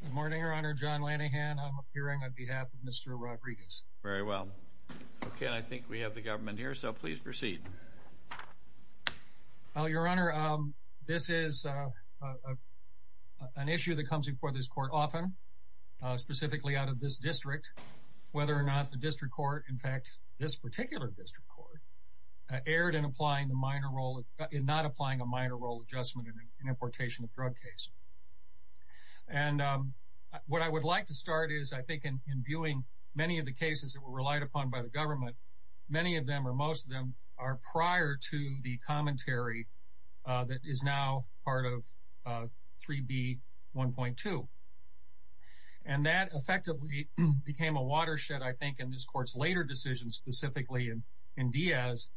Good morning, Your Honor. John Lanihan, I'm appearing on behalf of Mr. Rodriguez. Very well. Okay, I think we have the government here, so please proceed. Well, Your Honor, this is an issue that comes before this court often, specifically out of this district, whether or not the district court, in fact, this particular district court, erred in not applying a minor role adjustment in an importation of drug case. And what I would like to start is, I think, in viewing many of the cases that were relied upon by the government, many of them or most of them are prior to the commentary that is now part of 3B1.2. And that effectively became a watershed, I think, in this court's later decision, specifically in Diaz.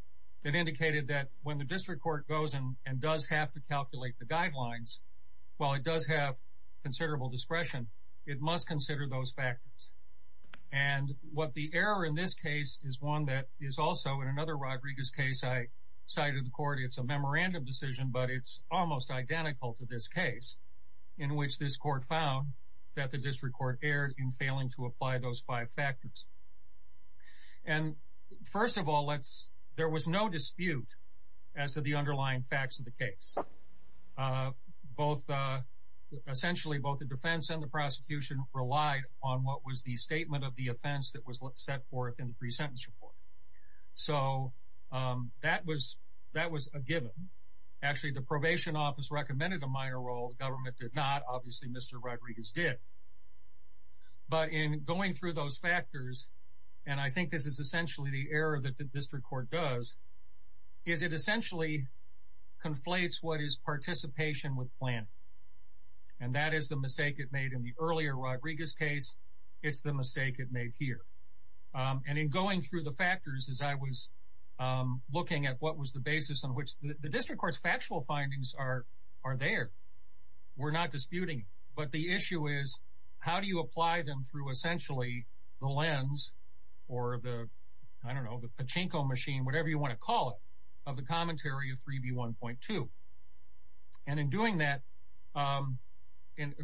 It indicated that when the district court goes and does have to calculate the guidelines, while it does have considerable discretion, it must consider those factors. And what the error in this case is one that is also, in another Rodriguez case I cited the court, it's a memorandum decision, but it's almost identical to this case, in which this court found that the district court erred in failing to apply those five factors. And first of all, there was no dispute as to the underlying facts of the case. Essentially, both the defense and the prosecution relied on what was the statement of the offense that was set forth in the pre-sentence report. So that was a given. Actually, the probation office recommended a minor role. The government did not. Obviously, Mr. Rodriguez did. But in going through those factors, and I think this is essentially the error that the district court does, is it essentially conflates what is participation with planning. And that is the mistake it made in the earlier Rodriguez case. It's the mistake it made here. And in going through the factors as I was looking at what was the basis on which the district court's factual findings are there, we're not disputing it. But the issue is how do you apply them through essentially the lens or the, I don't know, the pachinko machine, whatever you want to call it, of the commentary of 3B1.2. And in doing that,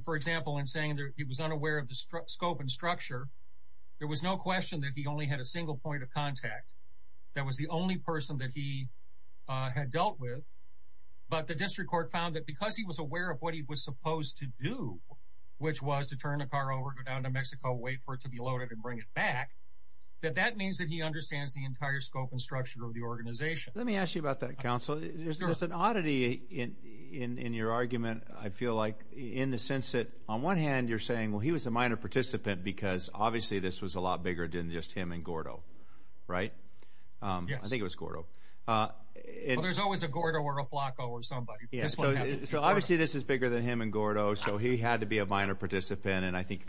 for example, in saying it was unaware of the scope and structure, there was no question that he only had a single point of contact. That was the only person that he had dealt with. But the district court found that because he was aware of what he was supposed to do, which was to turn the car over, go down to Mexico, wait for it to be loaded, and bring it back, that that means that he understands the entire scope and structure of the organization. Let me ask you about that, counsel. There's an oddity in your argument, I feel like, in the sense that on one hand you're saying, well, he was a minor participant because obviously this was a lot bigger than just him and Gordo, right? Yes. I think it was Gordo. Well, there's always a Gordo or a Flacco or somebody. So obviously this is bigger than him and Gordo, so he had to be a minor participant. And I think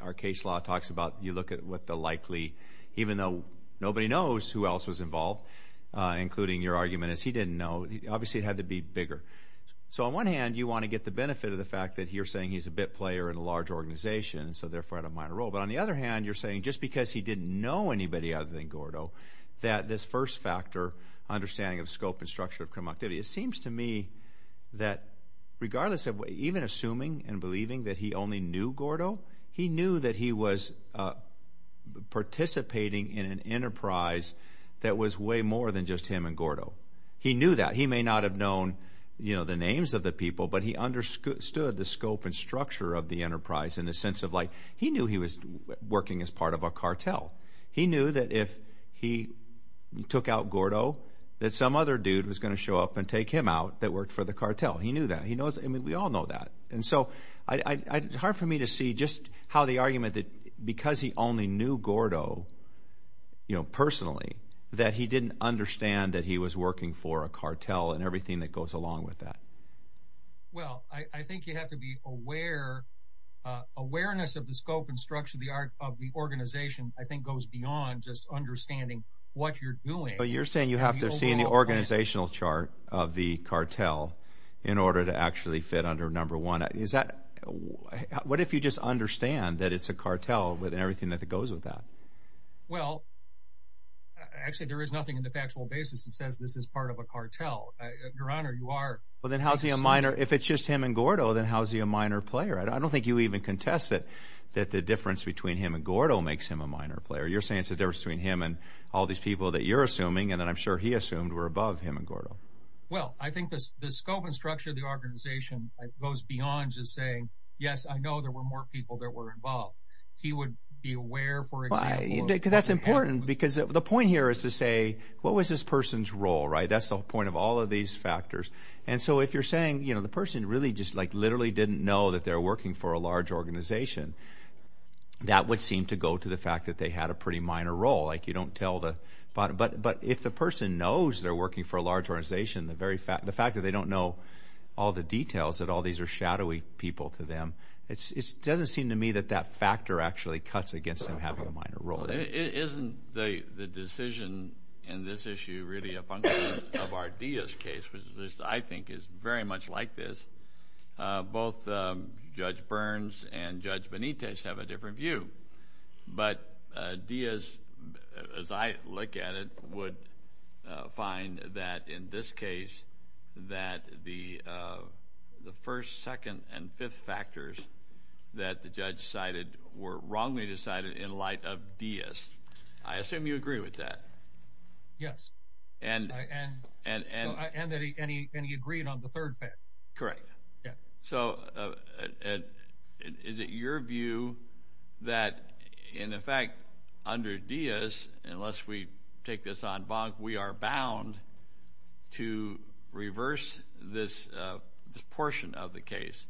our case law talks about you look at what the likely, even though nobody knows who else was involved, including your argument is he didn't know, obviously it had to be bigger. So on one hand you want to get the benefit of the fact that you're saying he's a bit player in a large organization and so therefore had a minor role. But on the other hand you're saying just because he didn't know anybody other than Gordo that this first factor, understanding of scope and structure of criminal activity, it seems to me that regardless of even assuming and believing that he only knew Gordo, he knew that he was participating in an enterprise that was way more than just him and Gordo. He knew that. He may not have known the names of the people, but he understood the scope and structure of the enterprise in a sense of like he knew he was working as part of a cartel. He knew that if he took out Gordo that some other dude was going to show up and take him out that worked for the cartel. He knew that. We all know that. And so it's hard for me to see just how the argument that because he only knew Gordo personally that he didn't understand that he was working for a cartel and everything that goes along with that. Well, I think you have to be aware. Awareness of the scope and structure of the organization I think goes beyond just understanding what you're doing. But you're saying you have to have seen the organizational chart of the cartel in order to actually fit under number one. What if you just understand that it's a cartel with everything that goes with that? Well, actually there is nothing in the factual basis that says this is part of a cartel. Your Honor, you are. Well, then how is he a minor? If it's just him and Gordo, then how is he a minor player? I don't think you even contest that the difference between him and Gordo makes him a minor player. You're saying it's the difference between him and all these people that you're assuming and that I'm sure he assumed were above him and Gordo. Well, I think the scope and structure of the organization goes beyond just saying, yes, I know there were more people that were involved. He would be aware, for example. Because that's important because the point here is to say what was this person's role, right? That's the point of all of these factors. And so if you're saying the person really just literally didn't know that they were working for a large organization, that would seem to go to the fact that they had a pretty minor role. You don't tell the bottom. But if the person knows they're working for a large organization, the fact that they don't know all the details that all these are shadowy people to them, it doesn't seem to me that that factor actually cuts against them having a minor role. Isn't the decision in this issue really a function of our Diaz case, which I think is very much like this? Both Judge Burns and Judge Benitez have a different view. But Diaz, as I look at it, would find that in this case that the first, second, and fifth factors that the judge cited were wrongly decided in light of Diaz. I assume you agree with that. Yes. And he agreed on the third fact. Correct. So is it your view that, in effect, under Diaz, unless we take this en banc, we are bound to reverse this portion of the case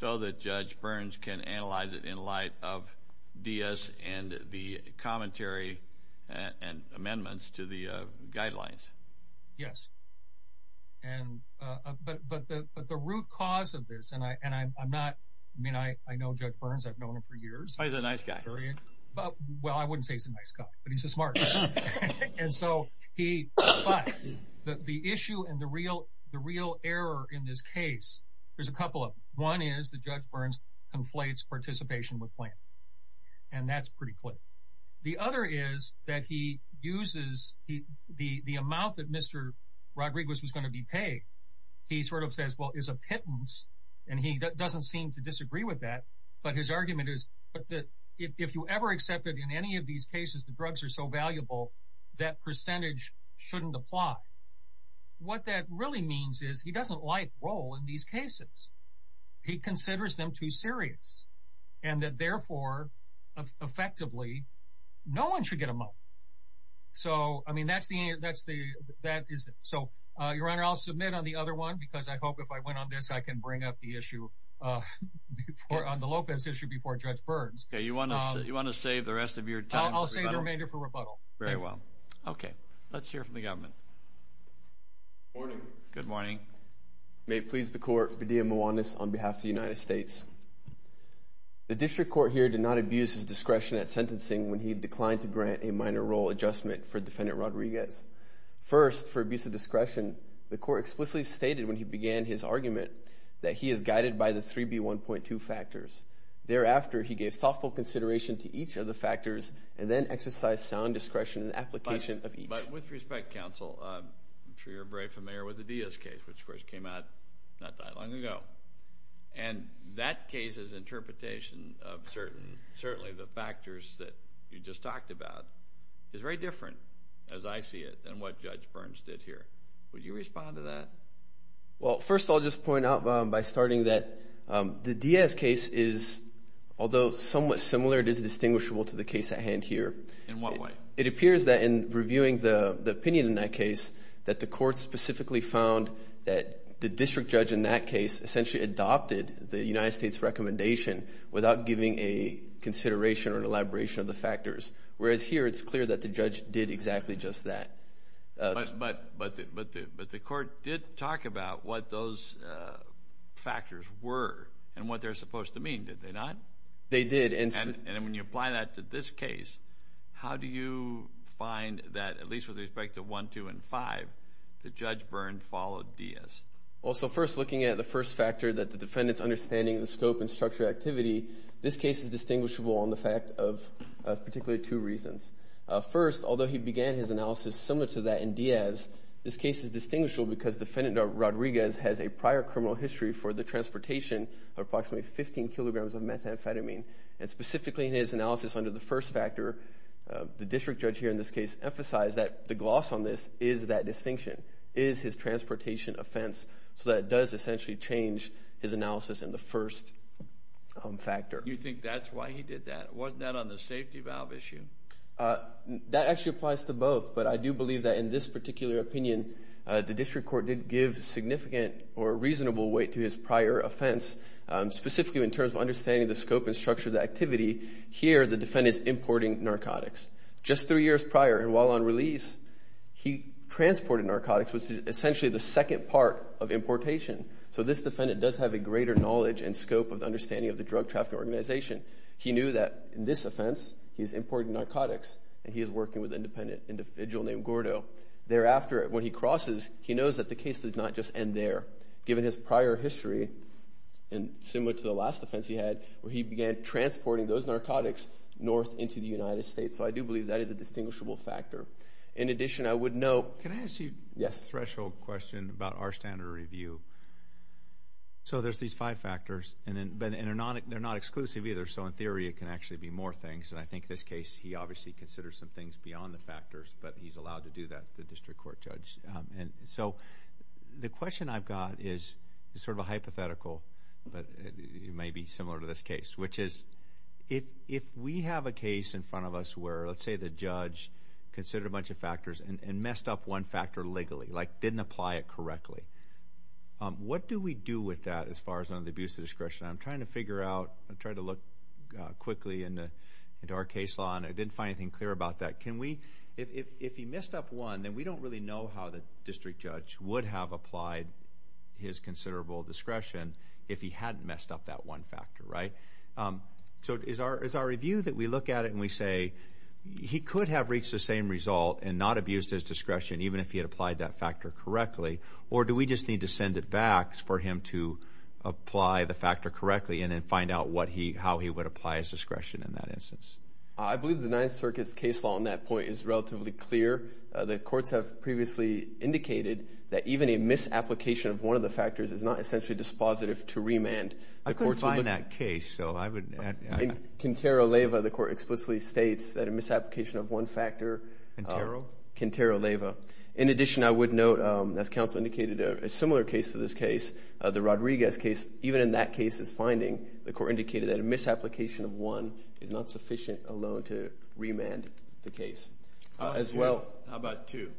so that Judge Burns can analyze it in light of Diaz and the commentary and amendments to the guidelines? Yes. But the root cause of this, and I know Judge Burns. I've known him for years. He's a nice guy. Well, I wouldn't say he's a nice guy, but he's a smart guy. But the issue and the real error in this case, there's a couple of them. One is that Judge Burns conflates participation with planning, and that's pretty clear. The other is that he uses the amount that Mr. Rodriguez was going to be paid. He sort of says, well, it's a pittance, and he doesn't seem to disagree with that. But his argument is if you ever accepted in any of these cases the drugs are so valuable, that percentage shouldn't apply. What that really means is he doesn't like role in these cases. He considers them too serious, and that, therefore, effectively, no one should get a moat. So, I mean, that's the answer. So, Your Honor, I'll submit on the other one because I hope if I went on this, I can bring up the issue on the Lopez issue before Judge Burns. Okay, you want to save the rest of your time for rebuttal? I'll save the remainder for rebuttal. Very well. Okay, let's hear from the government. Good morning. Good morning. May it please the Court, Badia Mouwannis on behalf of the United States. The district court here did not abuse his discretion at sentencing when he declined to grant a minor role adjustment for Defendant Rodriguez. First, for abuse of discretion, the court explicitly stated when he began his argument that he is guided by the 3B1.2 factors. Thereafter, he gave thoughtful consideration to each of the factors and then exercised sound discretion in the application of each. But with respect, Counsel, I'm sure you're very familiar with the Diaz case, which, of course, came out not that long ago. And that case's interpretation of certainly the factors that you just talked about is very different, as I see it, than what Judge Burns did here. Would you respond to that? Well, first I'll just point out by starting that the Diaz case is, although somewhat similar, it is distinguishable to the case at hand here. In what way? It appears that in reviewing the opinion in that case, that the court specifically found that the district judge in that case essentially adopted the United States recommendation without giving a consideration or an elaboration of the factors, whereas here it's clear that the judge did exactly just that. But the court did talk about what those factors were and what they're supposed to mean, did they not? They did. And when you apply that to this case, how do you find that, at least with respect to 1, 2, and 5, that Judge Burns followed Diaz? Well, so first looking at the first factor, that the defendant's understanding of the scope and structure of activity, this case is distinguishable on the fact of particularly two reasons. First, although he began his analysis similar to that in Diaz, this case is distinguishable because defendant Rodriguez has a prior criminal history for the transportation of approximately 15 kilograms of methamphetamine. And specifically in his analysis under the first factor, the district judge here in this case emphasized that the gloss on this is that distinction, is his transportation offense. So that does essentially change his analysis in the first factor. You think that's why he did that? Wasn't that on the safety valve issue? That actually applies to both, but I do believe that in this particular opinion, the district court did give significant or reasonable weight to his prior offense, specifically in terms of understanding the scope and structure of the activity. Here, the defendant's importing narcotics. Just three years prior and while on release, he transported narcotics, which is essentially the second part of importation. So this defendant does have a greater knowledge and scope of the understanding of the drug trafficking organization. He knew that in this offense, he's importing narcotics, and he is working with an independent individual named Gordo. Thereafter, when he crosses, he knows that the case did not just end there. Given his prior history, and similar to the last offense he had, where he began transporting those narcotics north into the United States. So I do believe that is a distinguishable factor. In addition, I would note... Can I ask you a threshold question about our standard of review? So there's these five factors, and they're not exclusive either. So in theory, it can actually be more things, and I think this case he obviously considers some things beyond the factors, but he's allowed to do that, the district court judge. So the question I've got is sort of a hypothetical, but it may be similar to this case, which is if we have a case in front of us where, let's say, the judge considered a bunch of factors and messed up one factor legally, like didn't apply it correctly, what do we do with that as far as under the abuse of discretion? I'm trying to figure out, I'm trying to look quickly into our case law, and I didn't find anything clear about that. If he messed up one, then we don't really know how the district judge would have applied his considerable discretion if he hadn't messed up that one factor, right? So is our review that we look at it and we say, he could have reached the same result and not abused his discretion, even if he had applied that factor correctly, or do we just need to send it back for him to apply the factor correctly and then find out how he would apply his discretion in that instance? I believe the Ninth Circuit's case law on that point is relatively clear. The courts have previously indicated that even a misapplication of one of the factors is not essentially dispositive to remand. I couldn't find that case, so I would... In Quintero-Leyva, the court explicitly states that a misapplication of one factor... Quintero? Quintero-Leyva. In addition, I would note, as counsel indicated, a similar case to this case, the Rodriguez case, even in that case's finding, the court indicated that a misapplication of one is not sufficient alone to remand the case. As well... How about two?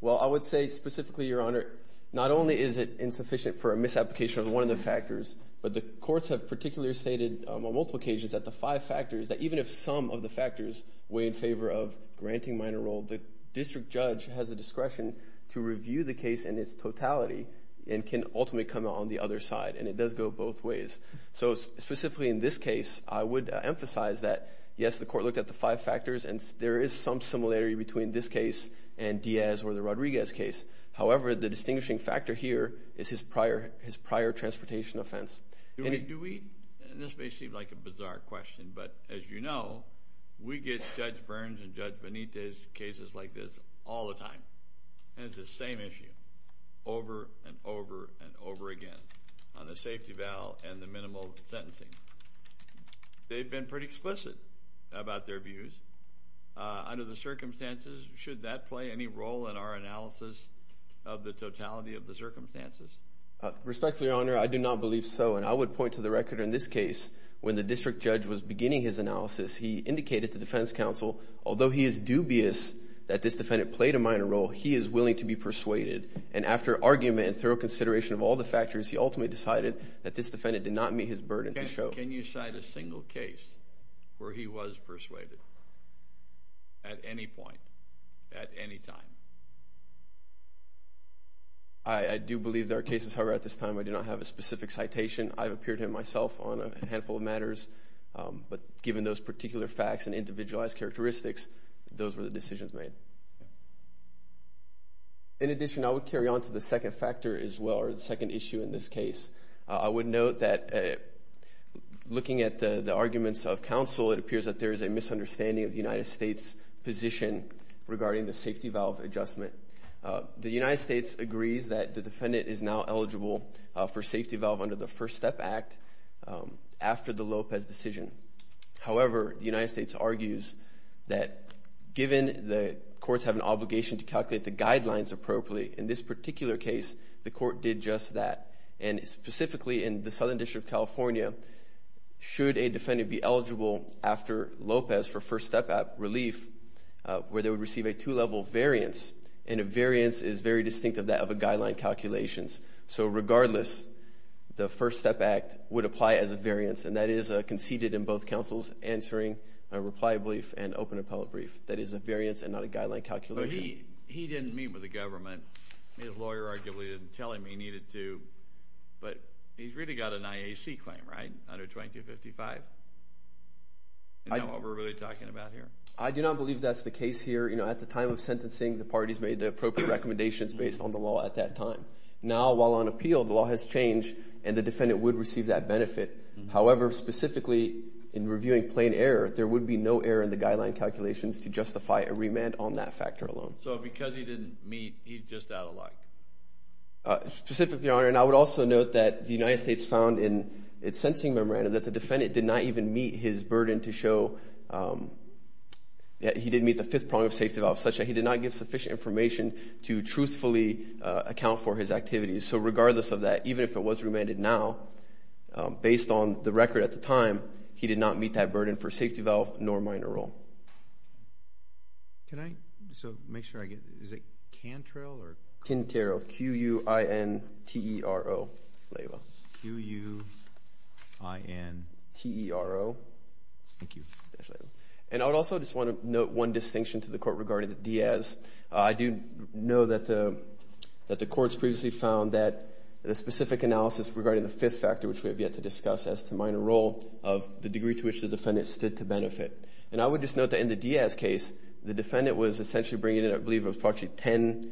Well, I would say specifically, Your Honor, not only is it insufficient for a misapplication of one of the factors, but the courts have particularly stated on multiple occasions that the five factors, that even if some of the factors weigh in favor of granting minor role, the district judge has the discretion to review the case in its totality and can ultimately come out on the other side. And it does go both ways. So specifically in this case, I would emphasize that, yes, the court looked at the five factors, and there is some similarity between this case and Diaz or the Rodriguez case. However, the distinguishing factor here is his prior transportation offense. Do we... And this may seem like a bizarre question, but as you know, we get Judge Burns and Judge Benitez cases like this all the time. And it's the same issue over and over and over again on the safety valve and the minimal sentencing. They've been pretty explicit about their views. Under the circumstances, should that play any role in our analysis of the totality of the circumstances? Respectfully, Your Honor, I do not believe so. And I would point to the record in this case when the district judge was beginning his analysis, he indicated to defense counsel, although he is dubious that this defendant played a minor role, he is willing to be persuaded. And after argument and thorough consideration of all the factors, he ultimately decided that this defendant did not meet his burden to show. Can you cite a single case where he was persuaded at any point, at any time? I do believe there are cases, however, at this time I do not have a specific citation. But given those particular facts and individualized characteristics, those were the decisions made. In addition, I would carry on to the second factor as well, or the second issue in this case. I would note that looking at the arguments of counsel, it appears that there is a misunderstanding of the United States position regarding the safety valve adjustment. The United States agrees that the defendant is now eligible for safety valve under the First Step Act after the Lopez decision. However, the United States argues that given the courts have an obligation to calculate the guidelines appropriately, in this particular case the court did just that. And specifically in the Southern District of California, should a defendant be eligible after Lopez for First Step relief where they would receive a two-level variance, and a variance is very distinct of that of a guideline calculations. So regardless, the First Step Act would apply as a variance, and that is conceded in both counsels answering a reply brief and open appellate brief. That is a variance and not a guideline calculation. But he didn't meet with the government. His lawyer arguably didn't tell him he needed to. But he's really got an IAC claim, right, under 2255? Is that what we're really talking about here? I do not believe that's the case here. At the time of sentencing, the parties made the appropriate recommendations based on the law at that time. Now, while on appeal, the law has changed and the defendant would receive that benefit. However, specifically in reviewing plain error, there would be no error in the guideline calculations to justify a remand on that factor alone. So because he didn't meet, he's just out of luck? Specifically, Your Honor, and I would also note that the United States found in its sentencing memorandum that the defendant did not even meet his burden to show that he didn't meet the fifth prong of safety law, such that he did not give sufficient information to truthfully account for his activities. So regardless of that, even if it was remanded now, based on the record at the time, he did not meet that burden for safety valve nor minor role. Can I just make sure I get this? Is it Cantrell? Quintero, Q-U-I-N-T-E-R-O. Q-U-I-N-T-E-R-O. Thank you. And I would also just want to note one distinction to the court regarding Diaz. I do know that the courts previously found that the specific analysis regarding the fifth factor, which we have yet to discuss as to minor role, of the degree to which the defendant stood to benefit. And I would just note that in the Diaz case, the defendant was essentially bringing in, I believe, approximately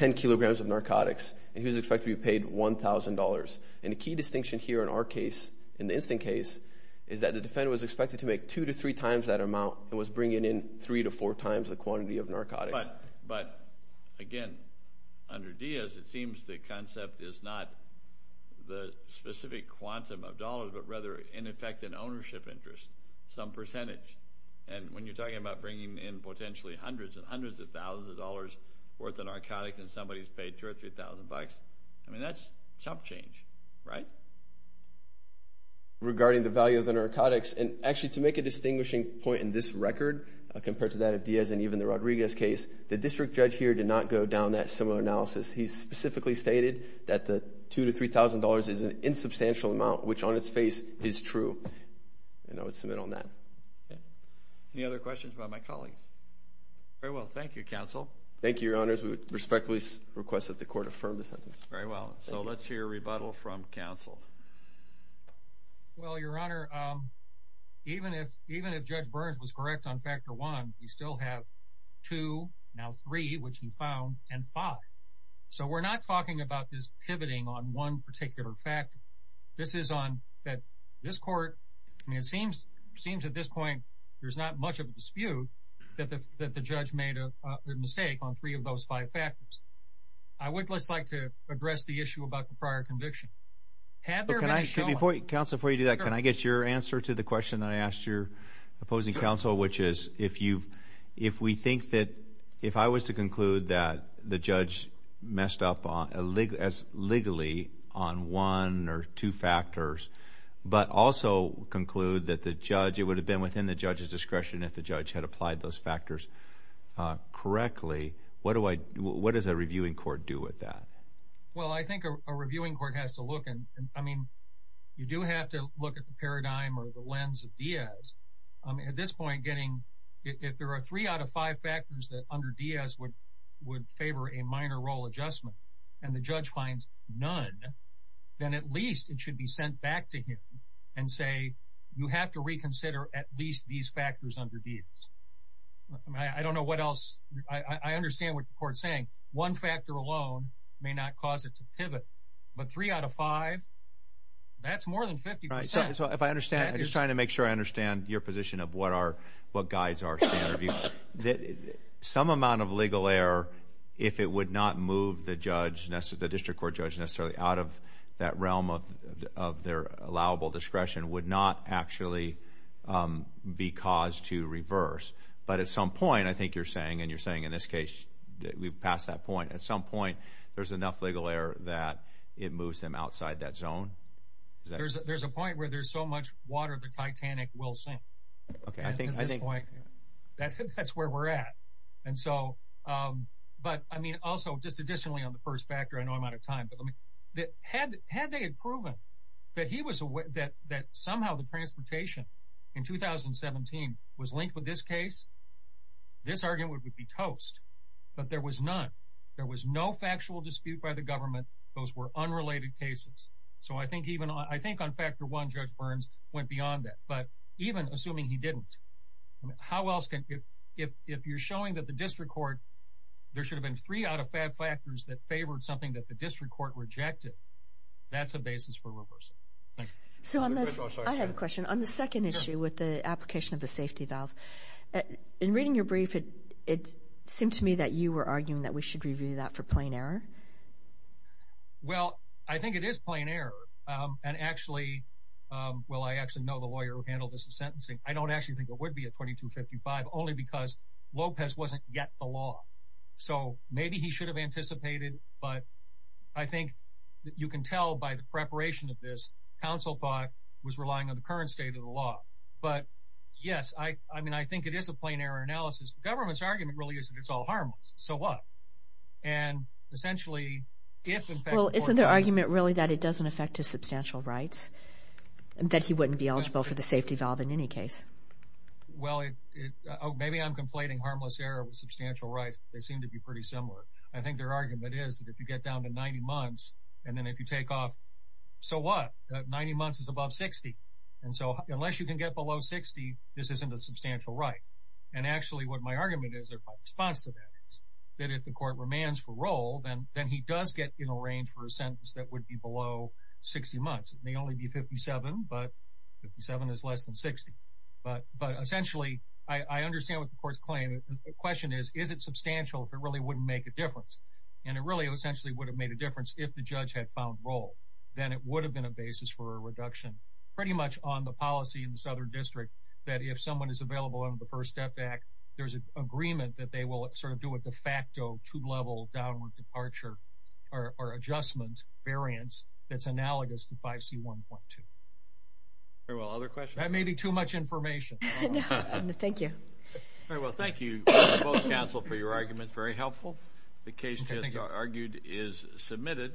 10 kilograms of narcotics, and he was expected to be paid $1,000. And the key distinction here in our case, in the instant case, is that the defendant was expected to make two to three times that amount and was bringing in three to four times the quantity of narcotics. But, again, under Diaz, it seems the concept is not the specific quantum of dollars, but rather, in effect, an ownership interest, some percentage. And when you're talking about bringing in potentially hundreds and hundreds of thousands of dollars worth of narcotics and somebody's paid $2,000 or $3,000, I mean, that's chump change, right? Regarding the value of the narcotics, and actually to make a distinguishing point in this record, compared to that of Diaz and even the Rodriguez case, the district judge here did not go down that similar analysis. He specifically stated that the $2,000 to $3,000 is an insubstantial amount, which on its face is true. And I would submit on that. Any other questions about my colleagues? Very well, thank you, Counsel. Thank you, Your Honors. We respectfully request that the Court affirm the sentence. Very well. So let's hear a rebuttal from Counsel. Well, Your Honor, even if Judge Burns was correct on Factor 1, you still have 2, now 3, which he found, and 5. So we're not talking about this pivoting on one particular factor. This is on that this Court, I mean, it seems at this point there's not much of a dispute that the judge made a mistake on three of those five factors. I would just like to address the issue about the prior conviction. Counsel, before you do that, can I get your answer to the question that I asked your opposing counsel, which is if we think that if I was to conclude that the judge messed up as legally on one or two factors, but also conclude that it would have been within the judge's discretion if the judge had applied those factors correctly, what does a reviewing court do with that? Well, I think a reviewing court has to look and, I mean, you do have to look at the paradigm or the lens of Diaz. At this point, if there are three out of five factors that under Diaz would favor a minor role adjustment and the judge finds none, then at least it should be sent back to him and say, you have to reconsider at least these factors under Diaz. I mean, I don't know what else. I understand what the Court is saying. One factor alone may not cause it to pivot, but three out of five, that's more than 50%. So if I understand, I'm just trying to make sure I understand your position of what guides our standard review. Some amount of legal error, if it would not move the district court judge necessarily out of that realm of their allowable discretion, would not actually be caused to reverse. But at some point, I think you're saying, and you're saying in this case that we've passed that point, at some point there's enough legal error that it moves them outside that zone? There's a point where there's so much water the Titanic will sink. At this point, that's where we're at. But, I mean, also just additionally on the first factor, I know I'm out of time, but had they had proven that somehow the transportation in 2017 was linked with this case, this argument would be toast. But there was none. There was no factual dispute by the government. Those were unrelated cases. So I think on factor one, Judge Burns went beyond that. But even assuming he didn't, if you're showing that the district court, there should have been three out of five factors that favored something that the district court rejected, that's a basis for reversal. So I have a question. On the second issue with the application of the safety valve, in reading your brief, it seemed to me that you were arguing that we should review that for plain error. Well, I think it is plain error. And actually, well, I actually know the lawyer who handled this sentencing. I don't actually think it would be a 2255, only because Lopez wasn't yet the law. So maybe he should have anticipated, but I think you can tell by the preparation of this, counsel thought it was relying on the current state of the law. But, yes, I mean, I think it is a plain error analysis. The government's argument really is that it's all harmless. So what? And essentially, if in fact the court does this. Well, isn't their argument really that it doesn't affect his substantial rights, that he wouldn't be eligible for the safety valve in any case? Well, maybe I'm conflating harmless error with substantial rights, but they seem to be pretty similar. I think their argument is that if you get down to 90 months, and then if you take off, so what? 90 months is above 60. And so unless you can get below 60, this isn't a substantial right. And actually what my argument is, or my response to that, is that if the court remands for roll, then he does get in a range for a sentence that would be below 60 months. It may only be 57, but 57 is less than 60. But essentially, I understand what the court's claim. The question is, is it substantial if it really wouldn't make a difference? And it really essentially would have made a difference if the judge had found roll. Then it would have been a basis for a reduction pretty much on the policy in the Southern District that if someone is available under the First Step Act, there's an agreement that they will sort of do a de facto two-level downward departure or adjustment variance that's analogous to 5C1.2. Very well. Other questions? That may be too much information. Thank you. Very well. Thank you, both counsel, for your argument. Very helpful. The case just argued is submitted.